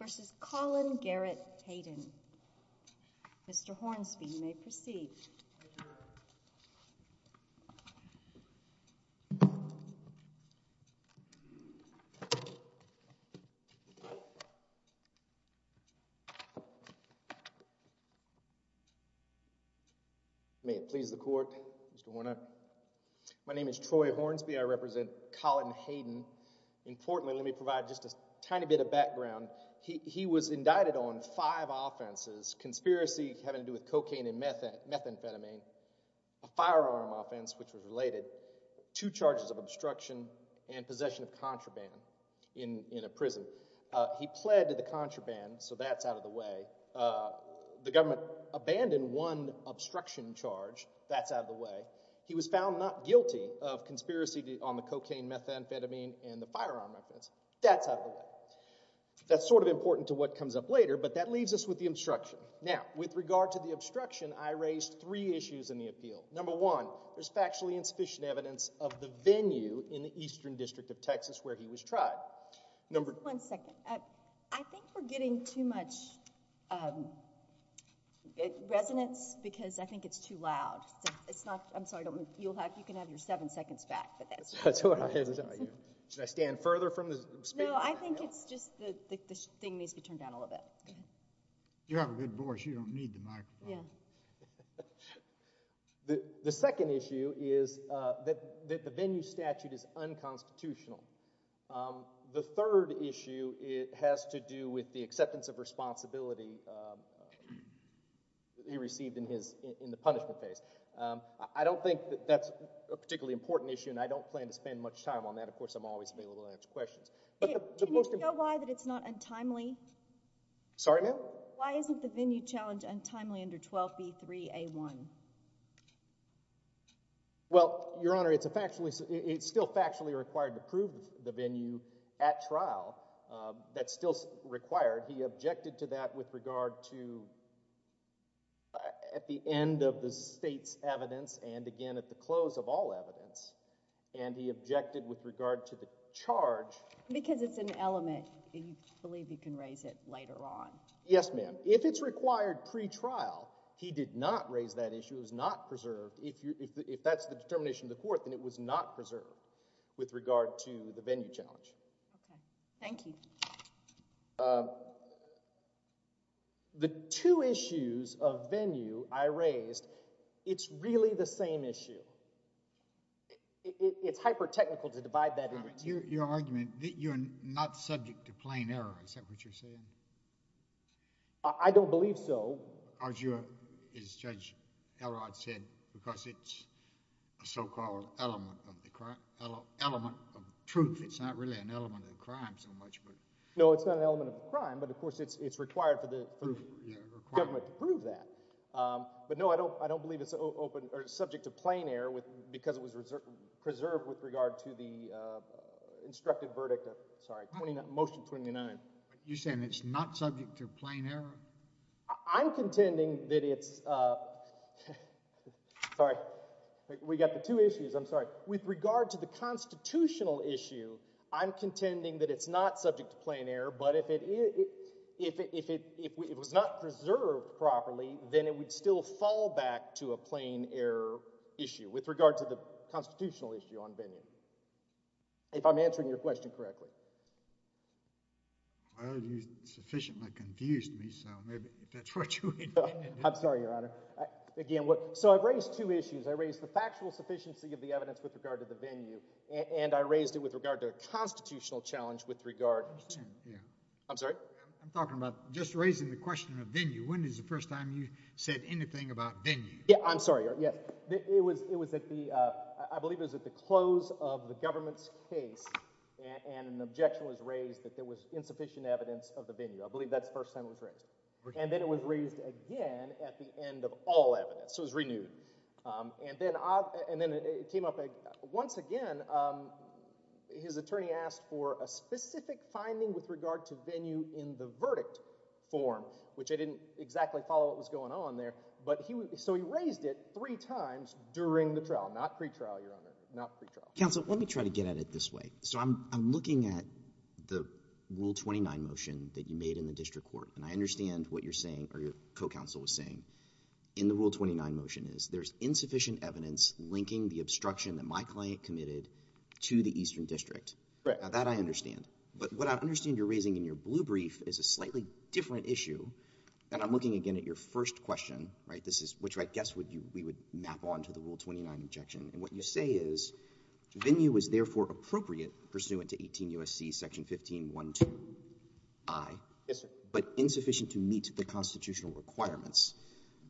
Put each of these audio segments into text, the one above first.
v. Colin Garrett Hayden. Mr. Hornsby, you may proceed. May it please the court, Mr. Warner. My name is Troy Hornsby, I represent Colin Hayden. Importantly, let me provide just a tiny bit of background. He was indicted on five offenses. Conspiracy having to do with cocaine and methamphetamine, a firearm offense, which was related, two charges of obstruction, and possession of contraband in a prison. He pled to the contraband, so that's out of the way. The government abandoned one obstruction charge, that's out of the way. He was found not guilty of conspiracy on the cocaine, methamphetamine, and the firearm offense. That's out of the way. That's sort of important to what comes up later, but that leaves us with the obstruction. Now, with regard to the obstruction, I raised three issues in the appeal. Number one, there's factually insufficient evidence of the venue in the Eastern District of Texas where he was tried. One second. I think we're getting too much resonance because I think it's too loud. It's not, I'm sorry, you can have your seven seconds back, but that's what I had to tell you. Should I stand further from the speaker? No, I think it's just that this thing needs to be turned down a little bit. You have a good voice, you don't need the microphone. The second issue is that the venue statute is unconstitutional. The third issue has to do with the acceptance of responsibility he received in the punishment case. I don't think that's a particularly important issue, and I don't plan to spend much time on that. Of course, I'm always available to answer questions. Do you know why that it's not untimely? Sorry, ma'am? Why isn't the venue challenge untimely under 12B3A1? Well, Your Honor, it's still factually required to prove the venue at trial. That's still required. He objected to that with regard to, at the end of the state's evidence, and again at the close of all evidence, and he objected with regard to the charge. Because it's an element, you believe you can raise it later on? Yes, ma'am. If it's required pre-trial, he did not raise that issue, it was not preserved. If that's the determination of the court, then it was not preserved with regard to the venue challenge. Okay. Thank you. The two issues of venue I raised, it's really the same issue. It's hyper-technical to divide that into two. Your argument that you're not subject to plain error, is that what you're saying? I don't believe so. As Judge Elrod said, because it's a so-called element of the crime, element of truth, it's not really an element of the crime so much. No, it's not an element of the crime, but of course it's required for the government to prove that. But no, I don't believe it's subject to plain error because it was preserved with regard to the instructed verdict, sorry, motion 29. You're saying it's not subject to plain error? I'm contending that it's, sorry, we got the two issues, I'm sorry. With regard to the constitutional issue, I'm contending that it's not subject to plain error, but if it was not preserved properly, then it would still fall back to a plain error issue with regard to the constitutional issue on venue, if I'm answering your question correctly. Well, you sufficiently confused me, so maybe that's what you intended. I'm sorry, Your Honor. So I raised two issues. I raised the factual sufficiency of the evidence with regard to the venue, and I raised it with regard to a constitutional challenge with regard to, I'm sorry? I'm talking about just raising the question of venue. When is the first time you said anything about venue? Yeah, I'm sorry, Your Honor. It was at the, I believe it was at the close of the government's case, and an objection was raised that there was insufficient evidence of the venue. I believe that's the first time it was raised. And then it was raised again at the end of all evidence, so it was renewed. And then it came up, once again, his attorney asked for a specific finding with regard to venue in the verdict form, which I didn't exactly follow what was going on there, but he, so he raised it three times during the trial, not pretrial, Your Honor, not pretrial. Counsel, let me try to get at it this way. So I'm looking at the Rule 29 motion that you made in the district court, and I understand what you're saying, or your co-counsel was saying, in the Rule 29 motion is, there's insufficient evidence linking the obstruction that my client committed to the Eastern District. Right. Now that I understand. But what I understand you're raising in your blue brief is a slightly different issue, and I'm looking again at your first question, right, this is, which I guess we would map on to the Rule 29 objection, and what you say is, venue was therefore appropriate pursuant to 18 U.S.C. section 15-1-2-I, but insufficient to meet the constitutional requirements.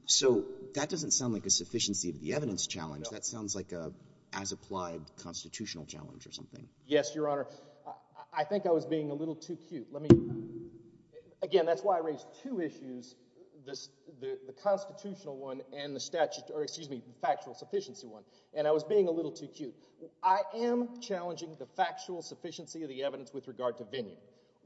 So that doesn't sound like a sufficiency of the evidence challenge, that sounds like a as-applied constitutional challenge or something. Yes, Your Honor. I think I was being a little too cute. Let me, again, that's why I raised two issues, the constitutional one and the statute, or excuse me, the factual sufficiency one, and I was being a little too cute. I am challenging the factual sufficiency of the evidence with regard to venue.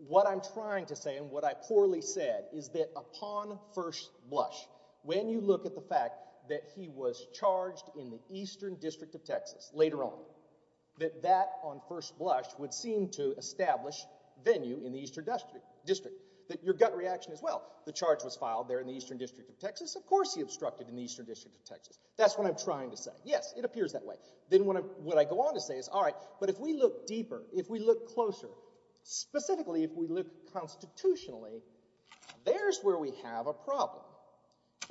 What I'm trying to say, and what I poorly said, is that upon first blush, when you look at the fact that he was charged in the Eastern District of Texas, later on, that that on first blush would seem to establish venue in the Eastern District, that your gut reaction as well, the charge was filed there in the Eastern District of Texas, of course he obstructed in the Eastern District of Texas. That's what I'm trying to say. Yes, it appears that way. Then what I go on to say is, all right, but if we look deeper, if we look closer, specifically if we look constitutionally, there's where we have a problem,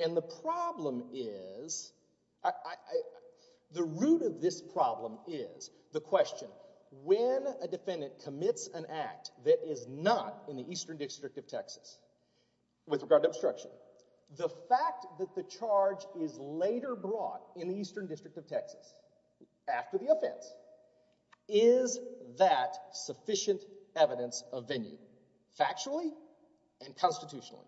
and the problem is... the root of this problem is the question, when a defendant commits an act that is not in the Eastern District of Texas, with regard to obstruction, the fact that the charge is later brought in the Eastern District of Texas, after the offense, is that sufficient evidence of venue, factually and constitutionally?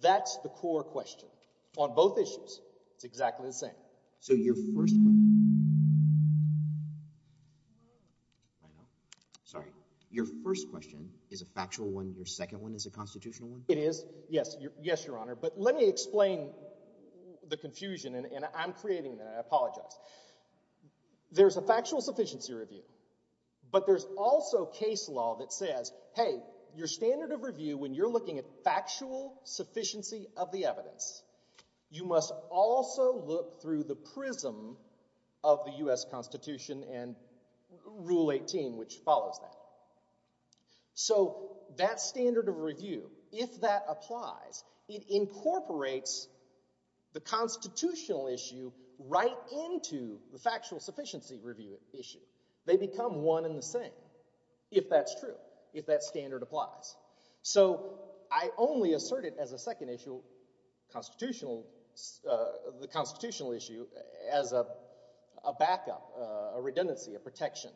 That's the core question. On both issues, it's exactly the same. So your first... I know, sorry. Your first question is a factual one, your second one is a constitutional one? It is. Yes, your Honor, but let me explain the confusion, and I'm creating that, I apologize. There's a factual sufficiency review, but there's also case law that says, hey, your standard of review, when you're looking at factual sufficiency of the evidence, you must also look through the prism of the U.S. Constitution and Rule 18, which follows that. So that standard of review, if that applies, it incorporates the constitutional issue right into the factual sufficiency review issue. They become one and the same, if that's true, if that standard applies. So I only assert it as a second issue, constitutional, the constitutional issue, as a backup, a redundancy, a protection.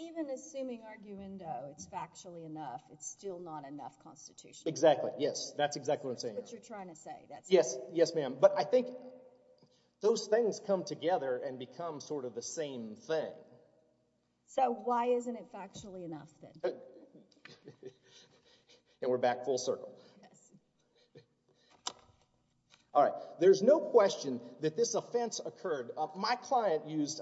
Even assuming arguendo, it's factually enough, it's still not enough constitutionally. Exactly, yes, that's exactly what I'm saying. That's what you're trying to say. Yes, yes ma'am. But I think those things come together and become sort of the same thing. So why isn't it factually enough, then? And we're back full circle. Yes. All right. There's no question that this offense occurred. My client used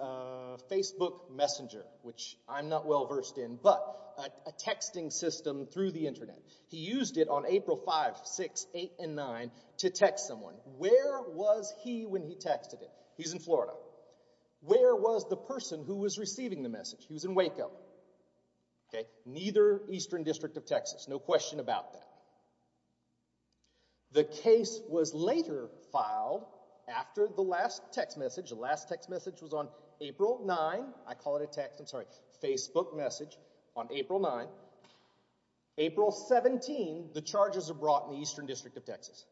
Facebook Messenger, which I'm not well versed in, but a texting system through the internet. He used it on April 5th, 6th, 8th, and 9th to text someone. Where was he when he texted him? He's in Florida. Where was the person who was receiving the message? He was in Waco, neither Eastern District of Texas, no question about that. The case was later filed after the last text message. The last text message was on April 9th, I call it a text, I'm sorry, Facebook message on April 9th. April 17th, the charges are brought in the Eastern District of Texas.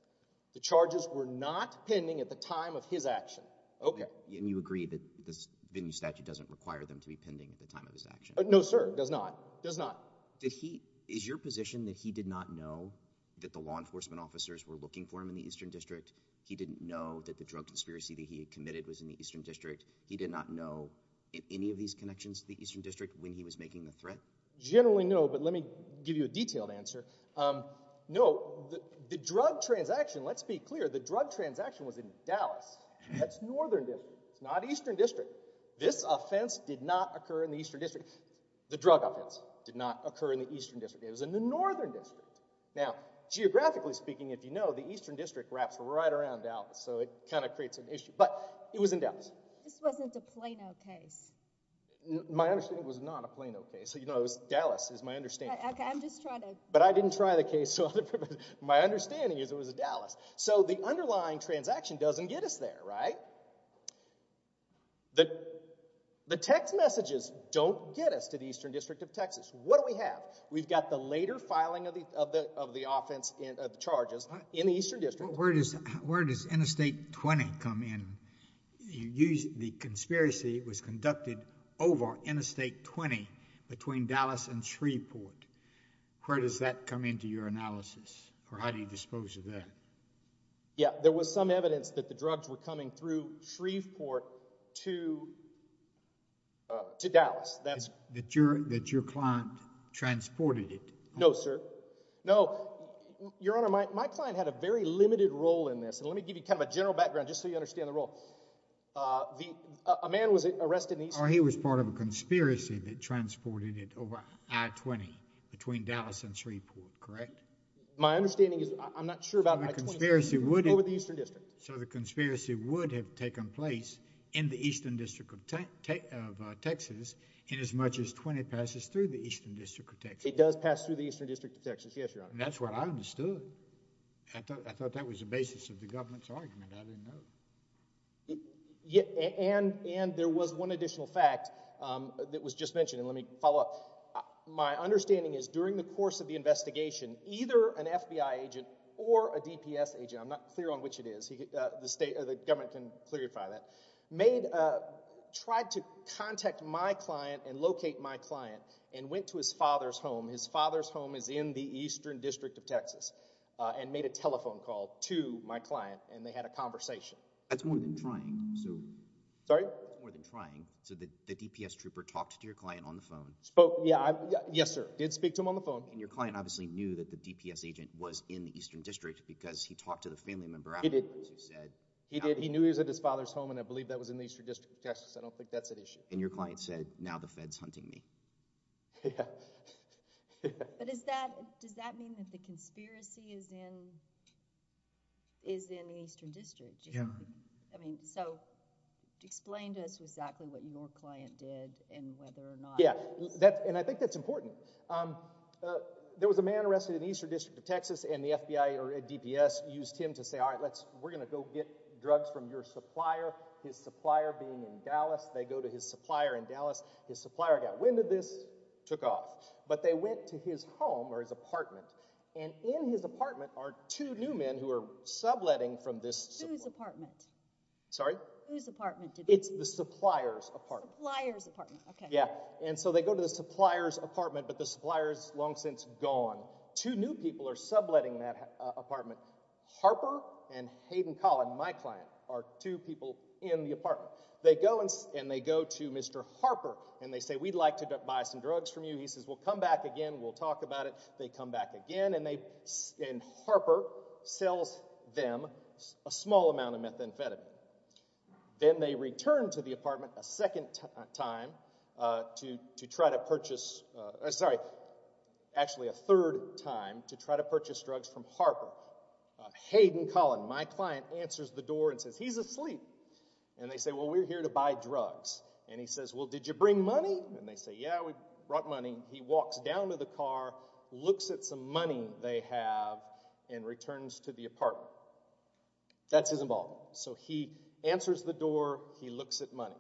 The charges were not pending at the time of his action. Okay. And you agree that this venue statute doesn't require them to be pending at the time of his action? No sir, it does not. It does not. Is your position that he did not know that the law enforcement officers were looking for him in the Eastern District? He didn't know that the drug conspiracy that he had committed was in the Eastern District? He did not know any of these connections to the Eastern District when he was making the threat? Generally no, but let me give you a detailed answer. No, the drug transaction, let's be clear, the drug transaction was in Dallas. That's Northern District. It's not Eastern District. This offense did not occur in the Eastern District. The drug offense did not occur in the Eastern District. It was in the Northern District. Now geographically speaking, if you know, the Eastern District wraps right around Dallas, so it kind of creates an issue. But it was in Dallas. This wasn't a Plano case. My understanding was it was not a Plano case. You know, Dallas is my understanding. Okay, I'm just trying to. But I didn't try the case. My understanding is it was in Dallas. So the underlying transaction doesn't get us there, right? Now, the text messages don't get us to the Eastern District of Texas. What do we have? We've got the later filing of the offense charges in the Eastern District. Where does Interstate 20 come in? The conspiracy was conducted over Interstate 20 between Dallas and Shreveport. Where does that come into your analysis, or how do you dispose of that? Yeah, there was some evidence that the drugs were coming through Shreveport to Dallas. That your client transported it? No, sir. No, Your Honor, my client had a very limited role in this. Let me give you kind of a general background just so you understand the role. A man was arrested in the Eastern District. He was part of a conspiracy that transported it over I-20 between Dallas and Shreveport, correct? My understanding is, I'm not sure about I-20, but it was over the Eastern District. So the conspiracy would have taken place in the Eastern District of Texas in as much as 20 passes through the Eastern District of Texas. It does pass through the Eastern District of Texas, yes, Your Honor. That's what I understood. I thought that was the basis of the government's argument. I didn't know. And there was one additional fact that was just mentioned, and let me follow up. My understanding is, during the course of the investigation, either an FBI agent or a DPS agent, I'm not clear on which it is, the government can clarify that, tried to contact my client and locate my client and went to his father's home. His father's home is in the Eastern District of Texas and made a telephone call to my client and they had a conversation. That's more than trying. Sorry? That's more than trying. So the DPS trooper talked to your client on the phone? Yes, sir. I did speak to him on the phone. And your client obviously knew that the DPS agent was in the Eastern District because he talked to the family member afterwards who said... He did. He knew he was at his father's home and I believe that was in the Eastern District of Texas. I don't think that's an issue. And your client said, now the Fed's hunting me. Yeah. But does that mean that the conspiracy is in the Eastern District? Yeah. I mean, so explain to us exactly what your client did and whether or not... Yeah. And I think that's important. There was a man arrested in the Eastern District of Texas and the FBI or DPS used him to say, all right, we're going to go get drugs from your supplier. His supplier being in Dallas, they go to his supplier in Dallas. His supplier got wind of this, took off. But they went to his home or his apartment and in his apartment are two new men who are subletting from this... Whose apartment? Sorry? Whose apartment? It's the supplier's apartment. Supplier's apartment. Okay. Yeah. And so they go to the supplier's apartment, but the supplier's long since gone. Two new people are subletting that apartment. Harper and Hayden Collin, my client, are two people in the apartment. They go and they go to Mr. Harper and they say, we'd like to buy some drugs from you. He says, we'll come back again. We'll talk about it. They come back again and they... and Harper sells them a small amount of methamphetamine. Then they return to the apartment a second time to try to purchase... sorry, actually a third time to try to purchase drugs from Harper. Hayden Collin, my client, answers the door and says, he's asleep. And they say, well, we're here to buy drugs. And he says, well, did you bring money? And they say, yeah, we brought money. He walks down to the car, looks at some money they have, and returns to the apartment. That's his involvement. So he answers the door. He looks at money.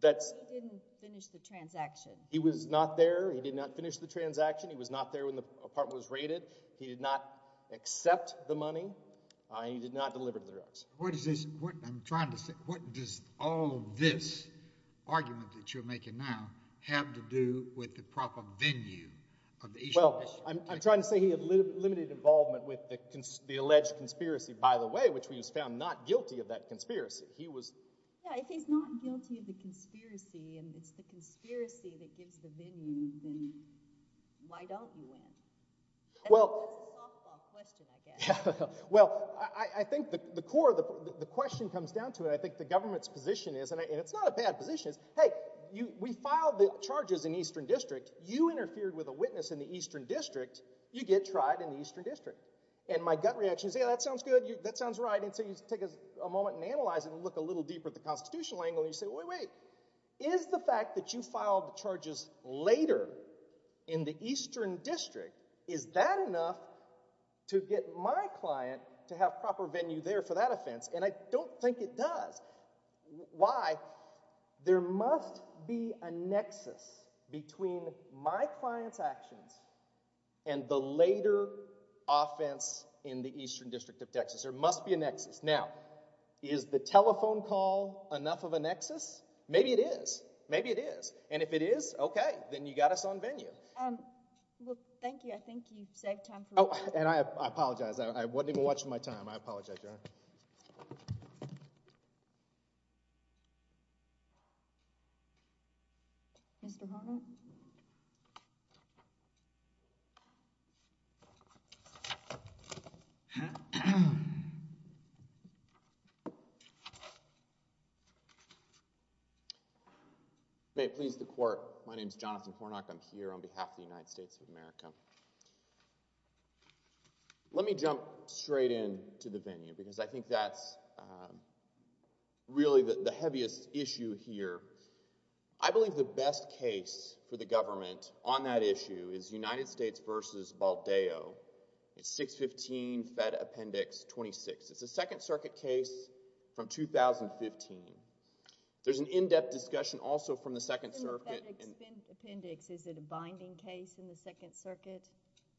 That's... He didn't finish the transaction. He was not there. He did not finish the transaction. He was not there when the apartment was raided. He did not accept the money and he did not deliver the drugs. What is this... I'm trying to say, what does all of this argument that you're making now have to do with the proper venue of the issue? Well, I'm trying to say he had limited involvement with the alleged conspiracy, by the way, which we just found not guilty of that conspiracy. He was... Yeah, if he's not guilty of the conspiracy and it's the conspiracy that gives the venue, then why don't you win? Well... That's a softball question, I guess. Yeah. Well, I think the core, the question comes down to it, I think the government's position is, and it's not a bad position, is, hey, we filed the charges in Eastern District. You interfered with a witness in the Eastern District. You get tried in the Eastern District. And my gut reaction is, yeah, that sounds good. That sounds right. And so you take a moment and analyze it and look a little deeper at the constitutional angle and you say, wait, wait, is the fact that you filed the charges later in the Eastern District, is that enough to get my client to have proper venue there for that offense? And I don't think it does. Why? There must be a nexus between my client's actions and the later offense in the Eastern District of Texas. There must be a nexus. Now, is the telephone call enough of a nexus? Maybe it is. Maybe it is. And if it is, okay. Then you got us on venue. Um, well, thank you. I think you saved time for me. Oh, and I apologize. I wasn't even watching my time. I apologize. You're all right. Mr. Horner? May it please the court, my name is Jonathan Hornock, I'm here on behalf of the United States of America. Let me jump straight in to the venue because I think that's really the heaviest issue here. I believe the best case for the government on that issue is United States v. Baldeo. It's 615 Fed Appendix 26. It's a Second Circuit case from 2015. There's an in-depth discussion also from the Second Circuit. In the Fed Appendix, is it a binding case in the Second Circuit?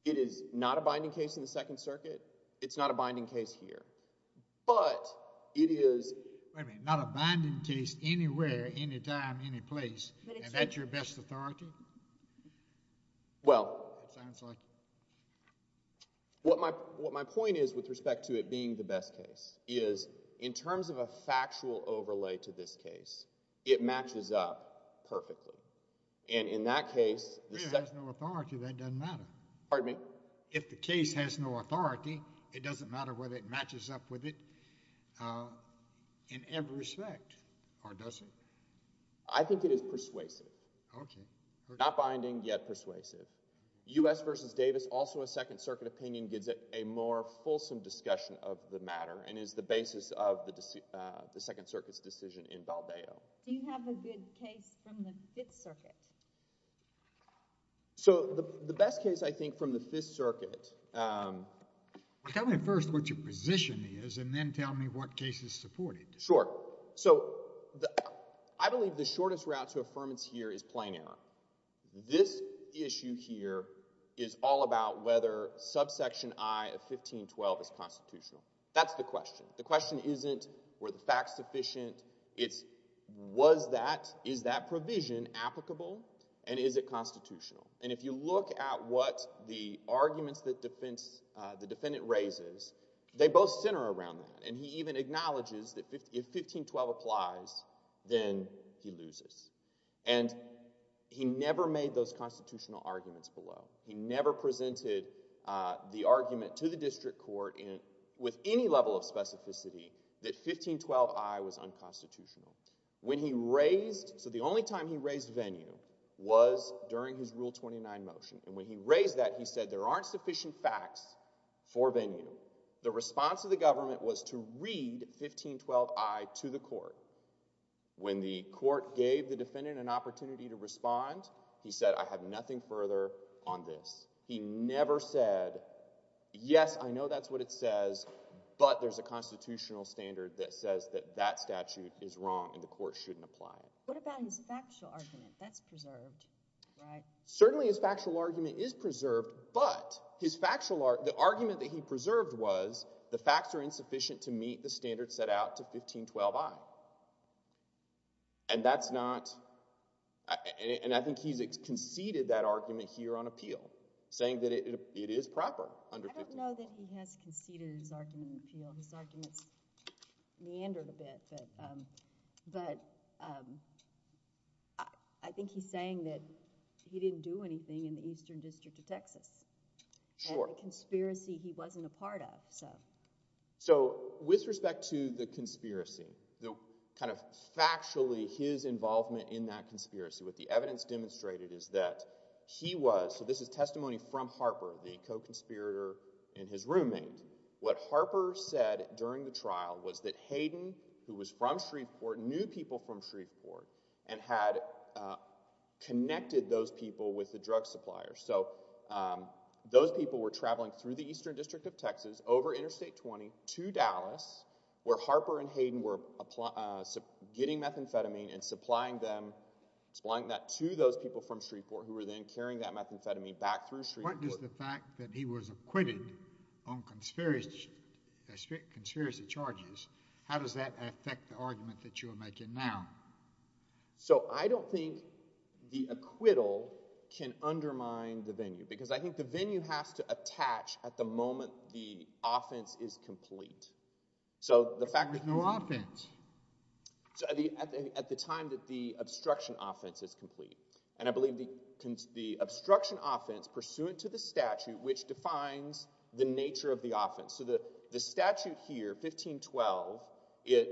It is not a binding case in the Second Circuit. It's not a binding case here. But, it is... Wait a minute, not a binding case anywhere, any time, any place. But it's... Is that your best authority? Well... It sounds like it. What my point is with respect to it being the best case is, in terms of a factual overlay to this case, it matches up perfectly. And in that case... If it has no authority, that doesn't matter. Pardon me? If the case has no authority, it doesn't matter whether it matches up with it in every respect, or does it? I think it is persuasive. Okay. Not binding, yet persuasive. U.S. v. Davis, also a Second Circuit opinion, gives it a more fulsome discussion of the matter and is the basis of the Second Circuit's decision in Baldeo. Do you have a good case from the Fifth Circuit? So, the best case, I think, from the Fifth Circuit... Tell me first what your position is, and then tell me what case is supported. Sure. So, I believe the shortest route to affirmance here is plain error. This issue here is all about whether subsection I of 1512 is constitutional. That's the question. The question isn't, were the facts sufficient? It's, was that, is that provision applicable, and is it constitutional? If you look at what the arguments that the defendant raises, they both center around that. He even acknowledges that if 1512 applies, then he loses. He never made those constitutional arguments below. He never presented the argument to the district court with any level of specificity that 1512 I was unconstitutional. When he raised, so the only time he raised venue was during his Rule 29 motion. And when he raised that, he said there aren't sufficient facts for venue. The response of the government was to read 1512 I to the court. When the court gave the defendant an opportunity to respond, he said, I have nothing further on this. He never said, yes, I know that's what it says, but there's a constitutional standard that says that that statute is wrong and the court shouldn't apply it. What about his factual argument? That's preserved, right? Certainly his factual argument is preserved, but his factual, the argument that he preserved was the facts are insufficient to meet the standard set out to 1512 I. And that's not, and I think he's conceded that argument here on appeal, saying that it is proper under 1512 I. I don't know that he has conceded his argument appeal. His argument's meandered a bit, but I think he's saying that he didn't do anything in the Eastern District of Texas. Sure. And the conspiracy he wasn't a part of, so. So with respect to the conspiracy, the kind of factually his involvement in that conspiracy, what the evidence demonstrated is that he was, so this is testimony from Harper, the co-conspirator, and his roommate. What Harper said during the trial was that Hayden, who was from Shreveport, knew people from Shreveport and had connected those people with the drug supplier. So those people were traveling through the Eastern District of Texas over Interstate 20 to Dallas, where Harper and Hayden were getting methamphetamine and supplying them, supplying that to those people from Shreveport who were then carrying that methamphetamine back through Shreveport. So what does the fact that he was acquitted on conspiracy charges, how does that affect the argument that you are making now? So I don't think the acquittal can undermine the venue, because I think the venue has to attach at the moment the offense is complete. There's no offense. At the time that the obstruction offense is complete, and I believe the obstruction offense pursuant to the statute, which defines the nature of the offense. So the statute here, 1512, it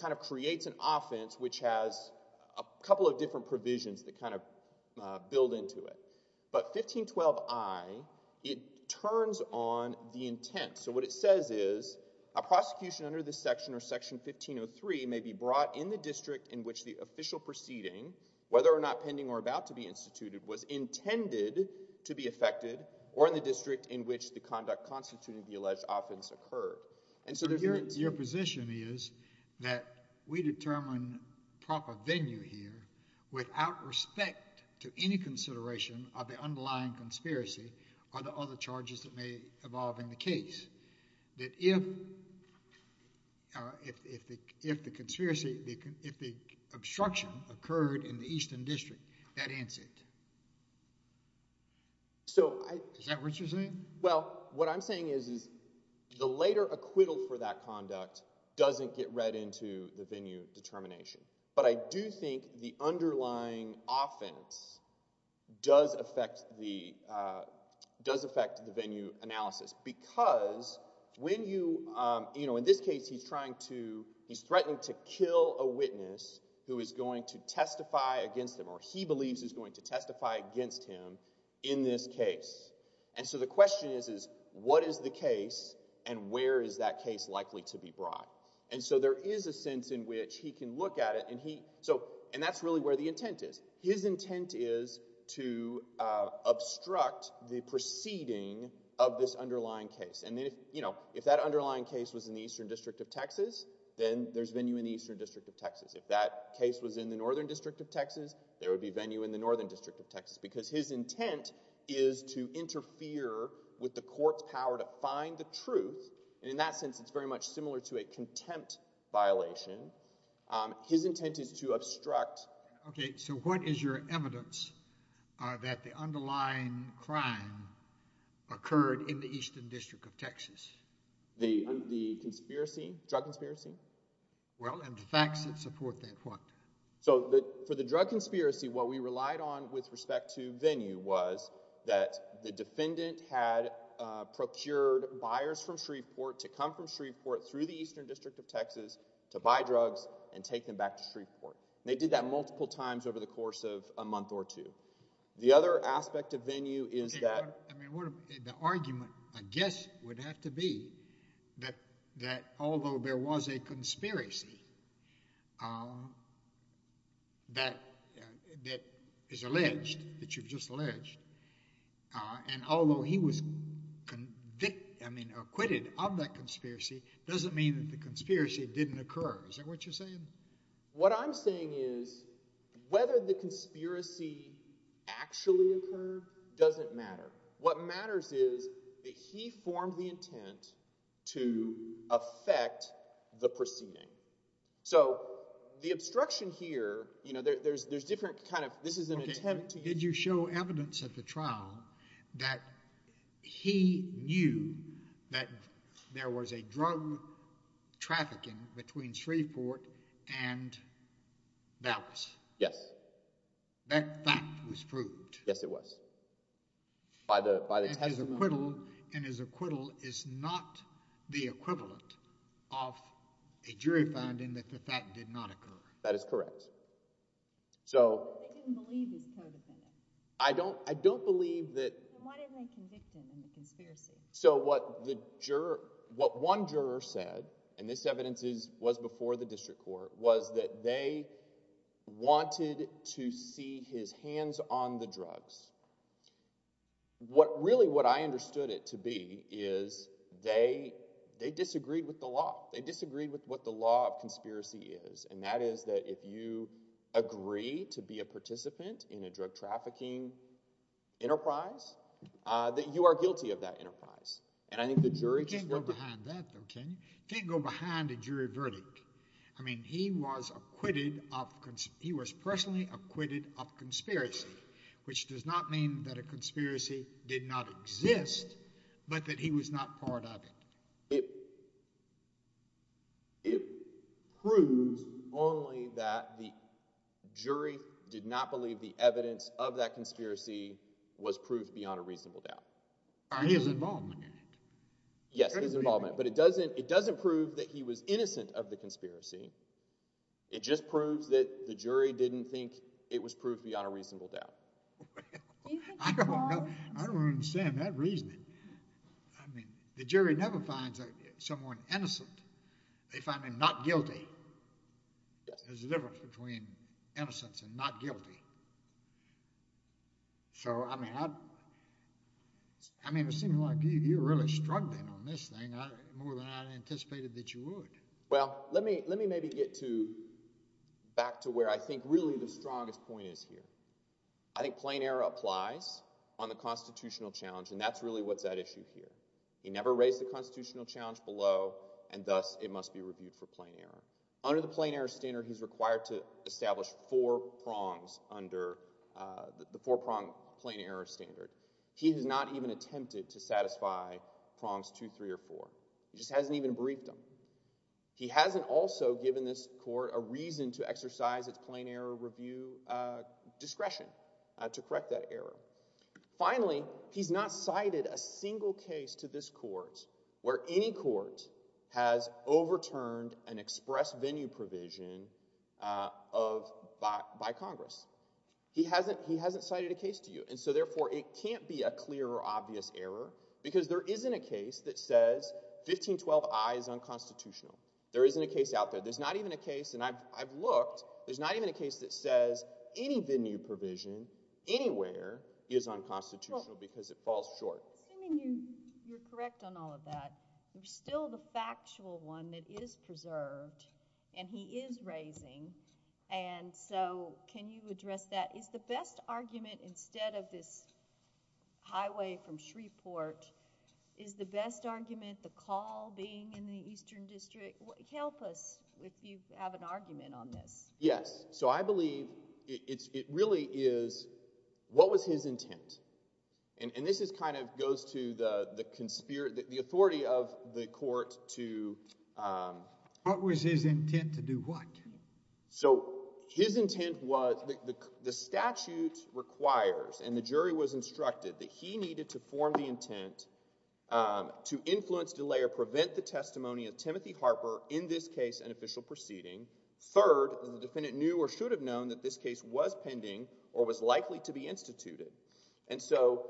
kind of creates an offense which has a couple of different provisions that kind of build into it. But 1512I, it turns on the intent. So what it says is, a prosecution under this section or Section 1503 may be brought in the district in which the official proceeding, whether or not pending or about to be instituted, was intended to be effected or in the district in which the conduct constituting the alleged offense occurred. Your position is that we determine proper venue here without respect to any consideration of the underlying conspiracy or the other charges that may evolve in the case. Is that what you're saying? Well, what I'm saying is the later acquittal for that conduct doesn't get read into the venue determination. But I do think the underlying offense does affect the venue analysis. Because in this case, he's threatening to kill a witness who is going to testify against him, or he believes is going to testify against him in this case. And so the question is, what is the case, and where is that case likely to be brought? And so there is a sense in which he can look at it, and that's really where the intent is. His intent is to obstruct the proceeding of this underlying case. And if that underlying case was in the Eastern District of Texas, then there's venue in the Eastern District of Texas. If that case was in the Northern District of Texas, there would be venue in the Northern District of Texas. Because his intent is to interfere with the court's power to find the truth. And in that sense, it's very much similar to a contempt violation. His intent is to obstruct. Okay, so what is your evidence that the underlying crime occurred in the Eastern District of Texas? The drug conspiracy? Well, and the facts that support that, what? So for the drug conspiracy, what we relied on with respect to venue was that the defendant had procured buyers from Shreveport to come from Shreveport through the Eastern District of Texas to come to Shreveport. And they did that multiple times over the course of a month or two. The other aspect of venue is that— I mean, the argument, I guess, would have to be that although there was a conspiracy that is alleged, that you've just alleged, and although he was acquitted of that conspiracy, doesn't mean that the conspiracy didn't occur. Is that what you're saying? What I'm saying is whether the conspiracy actually occurred doesn't matter. What matters is that he formed the intent to affect the proceeding. So the obstruction here, you know, there's different kind of—this is an attempt to— Did you show evidence at the trial that he knew that there was a drug trafficking between Shreveport and Dallas? Yes. That fact was proved? Yes, it was. By the testimony? And his acquittal is not the equivalent of a jury finding that the fact did not occur? That is correct. They didn't believe this co-defendant. Then why didn't they convict him in the conspiracy? So what one juror said, and this evidence was before the district court, was that they wanted to see his hands on the drugs. Really what I understood it to be is they disagreed with the law. They disagreed with what the law of conspiracy is, and that is that if you agree to be a participant in a drug trafficking enterprise, that you are guilty of that enterprise. And I think the jury— You can't go behind that, though, can you? You can't go behind a jury verdict. I mean, he was acquitted of—he was personally acquitted of conspiracy, which does not mean that a conspiracy did not exist, but that he was not part of it. It proves only that the jury did not believe the evidence of that conspiracy was proof beyond a reasonable doubt. His involvement in it. Yes, his involvement, but it doesn't prove that he was innocent of the conspiracy. It just proves that the jury didn't think it was proof beyond a reasonable doubt. I don't understand that reasoning. I mean, the jury never finds someone innocent. They find them not guilty. There's a difference between innocence and not guilty. So, I mean, it seems like you're really struggling on this thing more than I anticipated that you would. Well, let me maybe get to—back to where I think really the strongest point is here. I think plain error applies on the constitutional challenge, and that's really what's at issue here. He never raised the constitutional challenge below, and thus it must be reviewed for plain error. Under the plain error standard, he's required to establish four prongs under the four-prong plain error standard. He has not even attempted to satisfy prongs two, three, or four. He just hasn't even briefed them. He hasn't also given this court a reason to exercise its plain error review discretion to correct that error. Finally, he's not cited a single case to this court where any court has overturned an express venue provision by Congress. He hasn't cited a case to you, and so, therefore, it can't be a clear or obvious error because there isn't a case that says 1512i is unconstitutional. There isn't a case out there. There's not even a case, and I've looked. There's not even a case that says any venue provision anywhere is unconstitutional because it falls short. Well, assuming you're correct on all of that, you're still the factual one that is preserved, and he is raising, and so can you address that? Is the best argument instead of this highway from Shreveport, is the best argument the call being in the Eastern District? Help us if you have an argument on this. Yes. So I believe it really is what was his intent, and this kind of goes to the authority of the court to... What was his intent to do what? So his intent was the statute requires and the jury was instructed that he needed to form the intent to influence, delay, or prevent the testimony of Timothy Harper in this case and official proceeding. Third, the defendant knew or should have known that this case was pending or was likely to be instituted, and so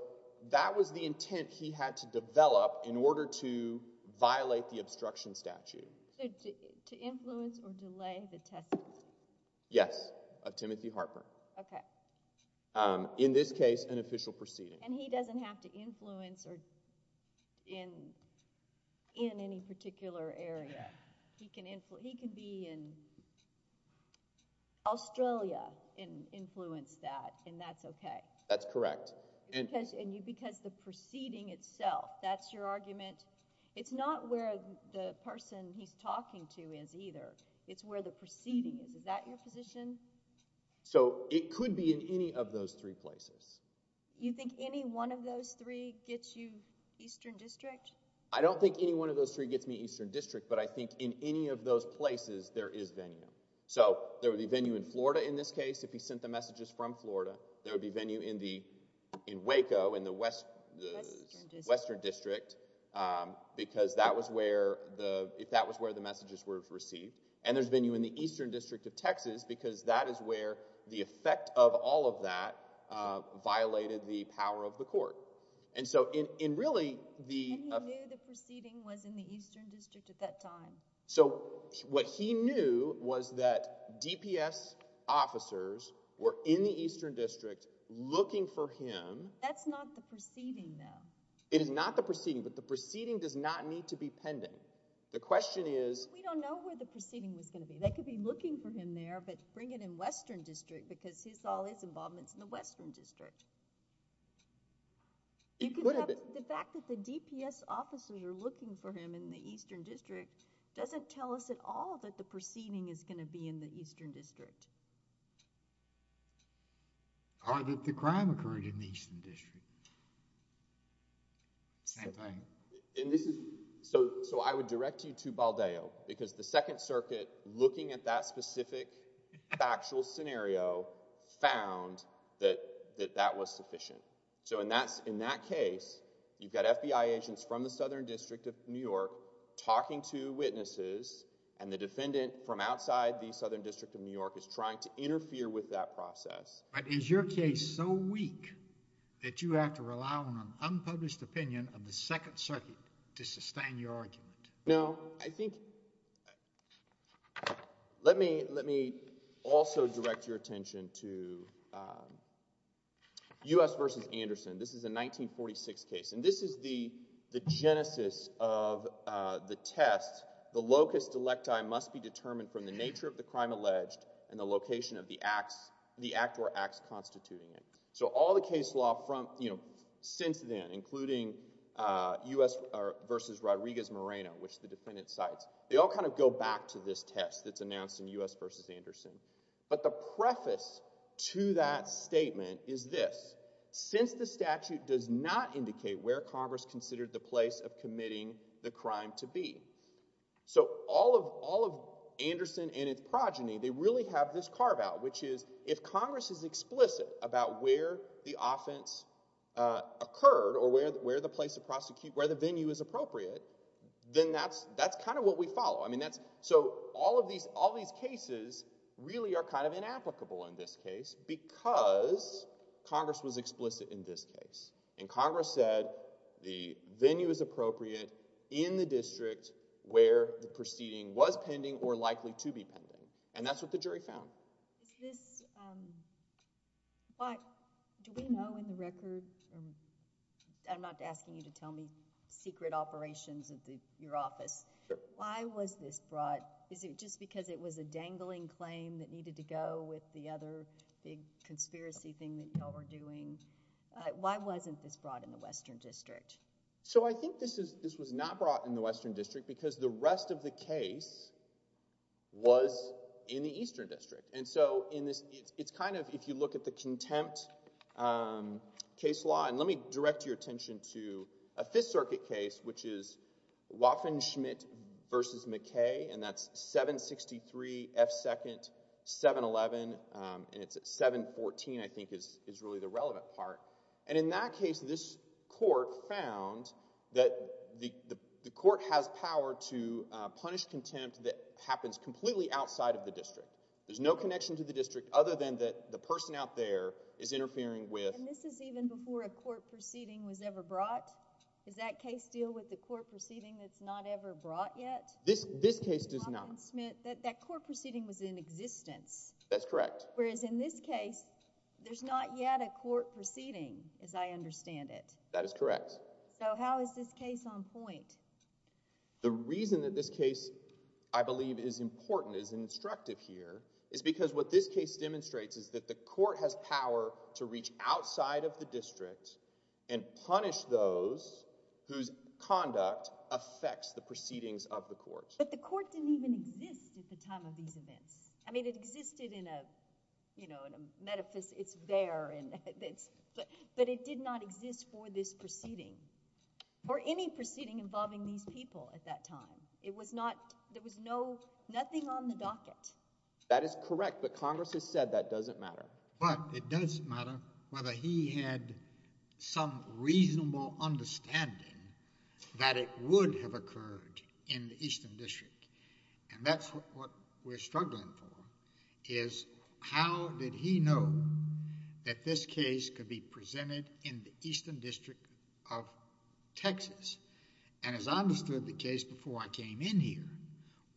that was the intent he had to develop in order to violate the obstruction statute. So to influence or delay the testimony? Yes, of Timothy Harper. Okay. In this case, an official proceeding. And he doesn't have to influence in any particular area. He can be in Australia and influence that, and that's okay. That's correct. Because the proceeding itself, that's your argument. It's not where the person he's talking to is either. It's where the proceeding is. Is that your position? So it could be in any of those three places. You think any one of those three gets you Eastern District? I don't think any one of those three gets me Eastern District, but I think in any of those places, there is venue. So there would be venue in Florida in this case if he sent the messages from Florida. There would be venue in Waco in the Western District because that was where the messages were received. And there's venue in the Eastern District of Texas because that is where the effect of all of that violated the power of the court. And he knew the proceeding was in the Eastern District at that time? So what he knew was that DPS officers were in the Eastern District looking for him. That's not the proceeding, though. It is not the proceeding, but the proceeding does not need to be pending. The question is— We don't know where the proceeding was going to be. They could be looking for him there, but bring it in Western District because all his involvement is in the Western District. The fact that the DPS officers are looking for him in the Eastern District doesn't tell us at all that the proceeding is going to be in the Eastern District. Or that the crime occurred in the Eastern District. Same thing. So I would direct you to Baldeo because the Second Circuit, looking at that specific factual scenario, found that that was sufficient. So in that case, you've got FBI agents from the Southern District of New York talking to witnesses, and the defendant from outside the Southern District of New York is trying to interfere with that process. But is your case so weak that you have to rely on an unpublished opinion of the Second Circuit to sustain your argument? No, I think—let me also direct your attention to U.S. v. Anderson. This is a 1946 case, and this is the genesis of the test. The locus delecti must be determined from the nature of the crime alleged and the location of the act or acts constituting it. So all the case law since then, including U.S. v. Rodriguez-Moreno, which the defendant cites, they all kind of go back to this test that's announced in U.S. v. Anderson. But the preface to that statement is this. Since the statute does not indicate where Congress considered the place of committing the crime to be, so all of Anderson and its progeny, they really have this carve-out, which is if Congress is explicit about where the offense occurred or where the venue is appropriate, then that's kind of what we follow. So all of these cases really are kind of inapplicable in this case because Congress was explicit in this case, and Congress said the venue is appropriate in the district where the proceeding was pending or likely to be pending, and that's what the jury found. Is this—do we know in the record—I'm not asking you to tell me secret operations of your office. Why was this brought? Is it just because it was a dangling claim that needed to go with the other big conspiracy thing that y'all were doing? Why wasn't this brought in the Western District? So I think this was not brought in the Western District because the rest of the case was in the Eastern District. And so it's kind of, if you look at the contempt case law— and let me direct your attention to a Fifth Circuit case, which is Waffen-Schmidt v. McKay, and that's 763 F. 2nd. 711, and it's 714, I think, is really the relevant part. And in that case, this court found that the court has power to punish contempt that happens completely outside of the district. There's no connection to the district other than that the person out there is interfering with— And this is even before a court proceeding was ever brought? Does that case deal with the court proceeding that's not ever brought yet? This case does not. Waffen-Schmidt—that court proceeding was in existence. That's correct. Whereas in this case, there's not yet a court proceeding, as I understand it. That is correct. So how is this case on point? The reason that this case, I believe, is important, is instructive here, is because what this case demonstrates is that the court has power to reach outside of the district and punish those whose conduct affects the proceedings of the court. I mean, it existed in a, you know, in a metaphys—it's there, but it did not exist for this proceeding or any proceeding involving these people at that time. It was not—there was no—nothing on the docket. That is correct, but Congress has said that doesn't matter. But it does matter whether he had some reasonable understanding that it would have occurred in the Eastern District. And that's what we're struggling for, is how did he know that this case could be presented in the Eastern District of Texas? And as I understood the case before I came in here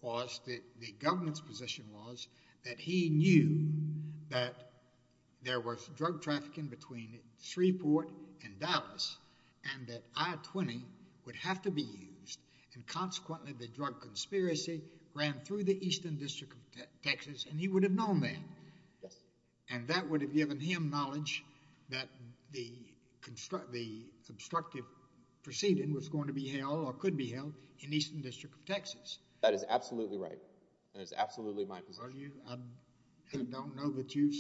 was that the government's position was that he knew that there was drug trafficking between Shreveport and Dallas and that I-20 would have to be used. And consequently, the drug conspiracy ran through the Eastern District of Texas and he would have known that. Yes. And that would have given him knowledge that the constructive proceeding was going to be held or could be held in the Eastern District of Texas. That is absolutely right. That is absolutely my position. Well, you—I don't know that you've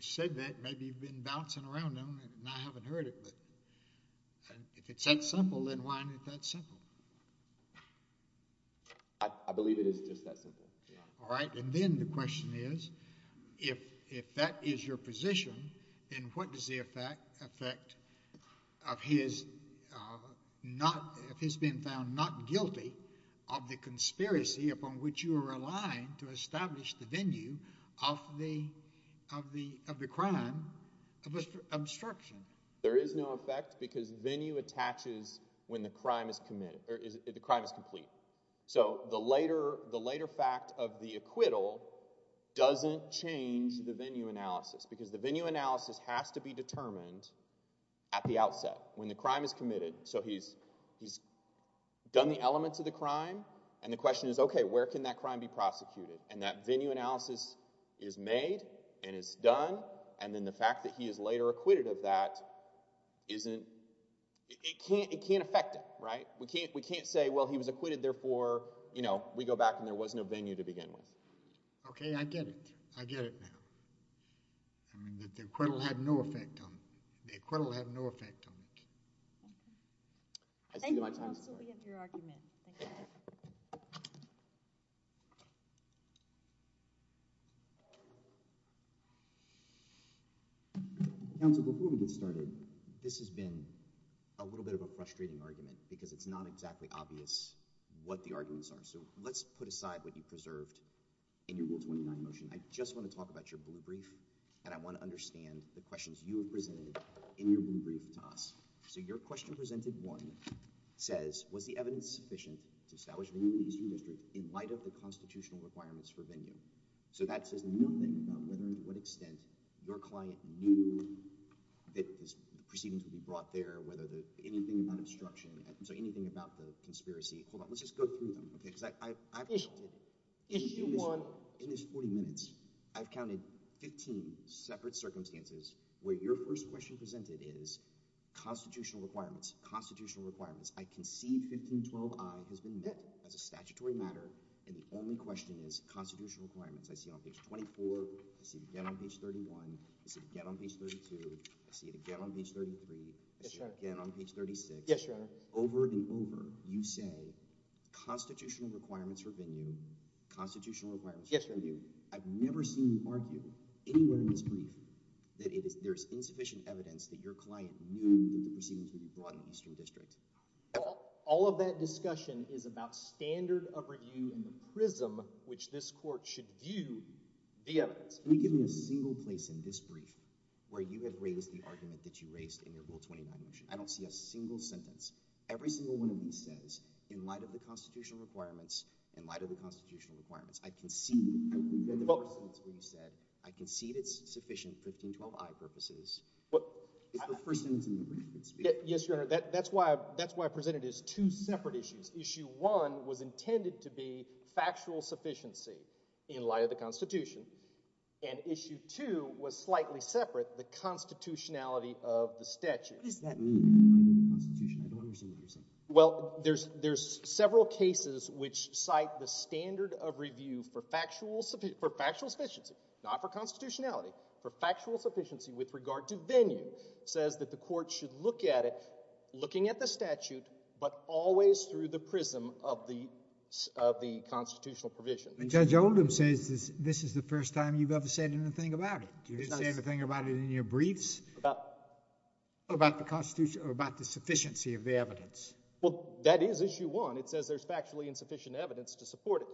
said that. Maybe you've been bouncing around on it and I haven't heard it. If it's that simple, then why isn't it that simple? I believe it is just that simple. All right. And then the question is if that is your position, then what does the effect of his not— if he's been found not guilty of the conspiracy upon which you are relying to establish the venue of the crime of obstruction? There is no effect because venue attaches when the crime is committed—the crime is complete. So the later fact of the acquittal doesn't change the venue analysis because the venue analysis has to be determined at the outset when the crime is committed. So he's done the elements of the crime and the question is, okay, where can that crime be prosecuted? And that venue analysis is made and is done, and then the fact that he is later acquitted of that isn't—it can't affect it, right? We can't say, well, he was acquitted, therefore, you know, we go back and there was no venue to begin with. Okay, I get it. I get it now. I mean that the acquittal had no effect on—the acquittal had no effect on it. Thank you. Thank you. Counsel, before we get started, this has been a little bit of a frustrating argument because it's not exactly obvious what the arguments are. So let's put aside what you preserved in your Rule 29 motion. I just want to talk about your blue brief, and I want to understand the questions you have presented in your blue brief to us. So your question presented one says, was the evidence sufficient to establish venue in the Eastern District in light of the constitutional requirements for venue? So that says nothing about whether and to what extent your client knew that the proceedings would be brought there, whether anything about obstruction—so anything about the conspiracy. Hold on. Let's just go through them, okay? Issue one. In this 40 minutes, I've counted 15 separate circumstances where your first question presented is constitutional requirements, constitutional requirements. I can see 1512i has been met as a statutory matter, and the only question is constitutional requirements. I see it on page 24. I see it again on page 31. I see it again on page 32. I see it again on page 33. I see it again on page 36. Yes, Your Honor. So over and over you say constitutional requirements for venue, constitutional requirements for venue. Yes, Your Honor. I've never seen you argue anywhere in this brief that there is insufficient evidence that your client knew that the proceedings would be brought in the Eastern District. All of that discussion is about standard of review and the prism which this court should view the evidence. Can you give me a single place in this brief where you have raised the argument that you raised in your Rule 29 motion? I don't see a single sentence. Every single one of these says, in light of the constitutional requirements, in light of the constitutional requirements, I concede that it's sufficient for 1512i purposes. It's the first sentence in the brief. Yes, Your Honor. That's why I presented it as two separate issues. Issue one was intended to be factual sufficiency in light of the Constitution. And issue two was slightly separate, the constitutionality of the statute. What does that mean? I don't understand what you're saying. Well, there's several cases which cite the standard of review for factual sufficiency, not for constitutionality, for factual sufficiency with regard to venue. It says that the court should look at it, looking at the statute, but always through the prism of the constitutional provision. Judge Oldham says this is the first time you've ever said anything about it. Did you say anything about it in your briefs? About? About the sufficiency of the evidence. Well, that is issue one. It says there's factually insufficient evidence to support it.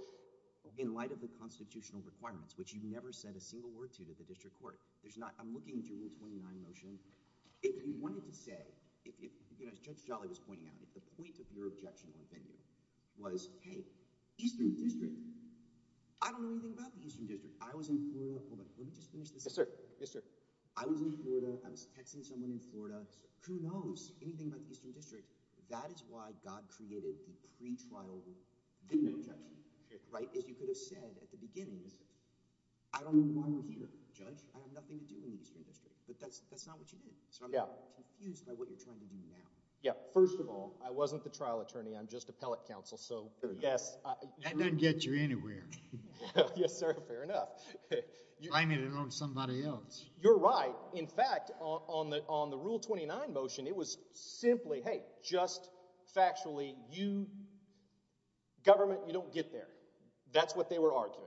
In light of the constitutional requirements, which you've never said a single word to the district court, I'm looking at your Rule 29 motion. If you wanted to say, as Judge Jolly was pointing out, if the point of your objection on venue was, hey, Eastern District, I don't know anything about the Eastern District. I was in Florida. Hold on. Let me just finish this. Yes, sir. I was in Florida. I was texting someone in Florida. Who knows anything about the Eastern District? That is why God created the pretrial venue objection, right? As you could have said at the beginning, I don't know why we're here, Judge. I have nothing to do with the Eastern District. But that's not what you did. So I'm confused by what you're trying to do now. Yeah. First of all, I wasn't the trial attorney. I'm just appellate counsel. So, yes. That doesn't get you anywhere. Yes, sir. Fair enough. I'm in it on somebody else. You're right. In fact, on the Rule 29 motion, it was simply, hey, just factually, you, government, you don't get there. That's what they were arguing.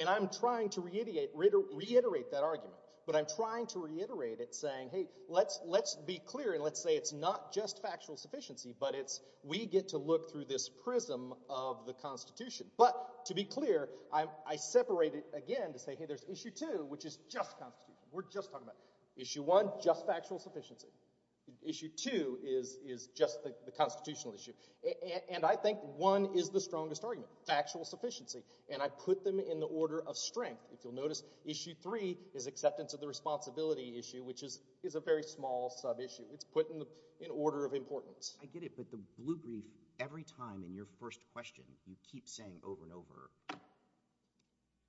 And I'm trying to reiterate that argument. But I'm trying to reiterate it saying, hey, let's be clear and let's say it's not just factual sufficiency, but it's we get to look through this prism of the Constitution. But to be clear, I separate it again to say, hey, there's Issue 2, which is just Constitution. We're just talking about it. Issue 1, just factual sufficiency. Issue 2 is just the constitutional issue. And I think 1 is the strongest argument, factual sufficiency. And I put them in the order of strength. If you'll notice, Issue 3 is acceptance of the responsibility issue, which is a very small subissue. It's put in order of importance. I get it. But the blue brief, every time in your first question, you keep saying over and over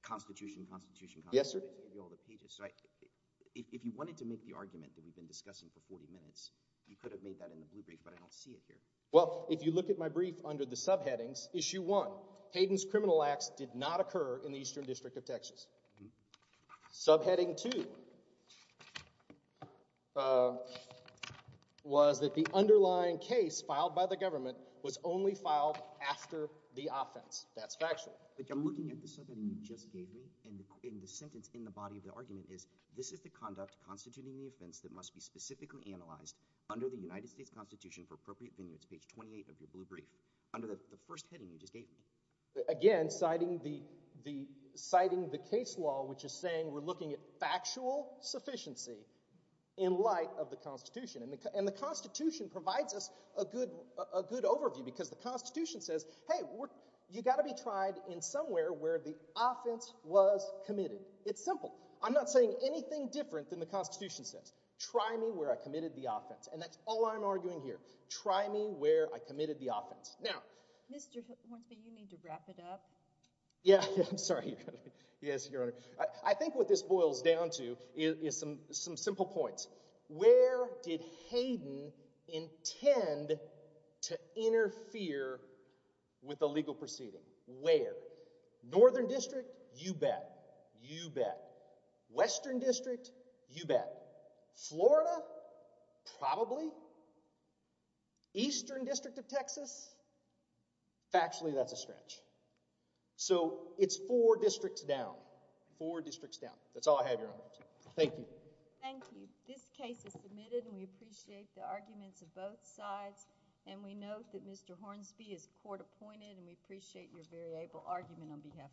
Constitution, Constitution, Constitution. Yes, sir. If you wanted to make the argument that we've been discussing for 40 minutes, you could have made that in the blue brief, but I don't see it here. Well, if you look at my brief under the subheadings, Issue 1, Hayden's criminal acts did not occur in the Eastern District of Texas. Subheading 2 was that the underlying case filed by the government was only filed after the offense. That's factual. But I'm looking at the subheading you just gave me, and the sentence in the body of the argument is, this is the conduct constituting the offense that must be specifically analyzed under the United States Constitution for appropriate venue. It's page 28 of your blue brief. Under the first heading you just gave me. Again, citing the case law, which is saying we're looking at factual sufficiency in light of the Constitution. And the Constitution provides us a good overview because the Constitution says, hey, you've got to be tried in somewhere where the offense was committed. It's simple. I'm not saying anything different than the Constitution says. Try me where I committed the offense. And that's all I'm arguing here. Try me where I committed the offense. Now— Mr. Horton, you need to wrap it up. Yeah, I'm sorry. Yes, Your Honor. I think what this boils down to is some simple points. Where did Hayden intend to interfere with the legal proceeding? Where? Northern District? You bet. You bet. Western District? You bet. Florida? Probably. Eastern District of Texas? Factually, that's a stretch. So, it's four districts down. Four districts down. That's all I have, Your Honor. Thank you. Thank you. This case is submitted, and we appreciate the arguments of both sides. And we note that Mr. Hornsby is court-appointed, and we appreciate your very able argument on behalf of the court.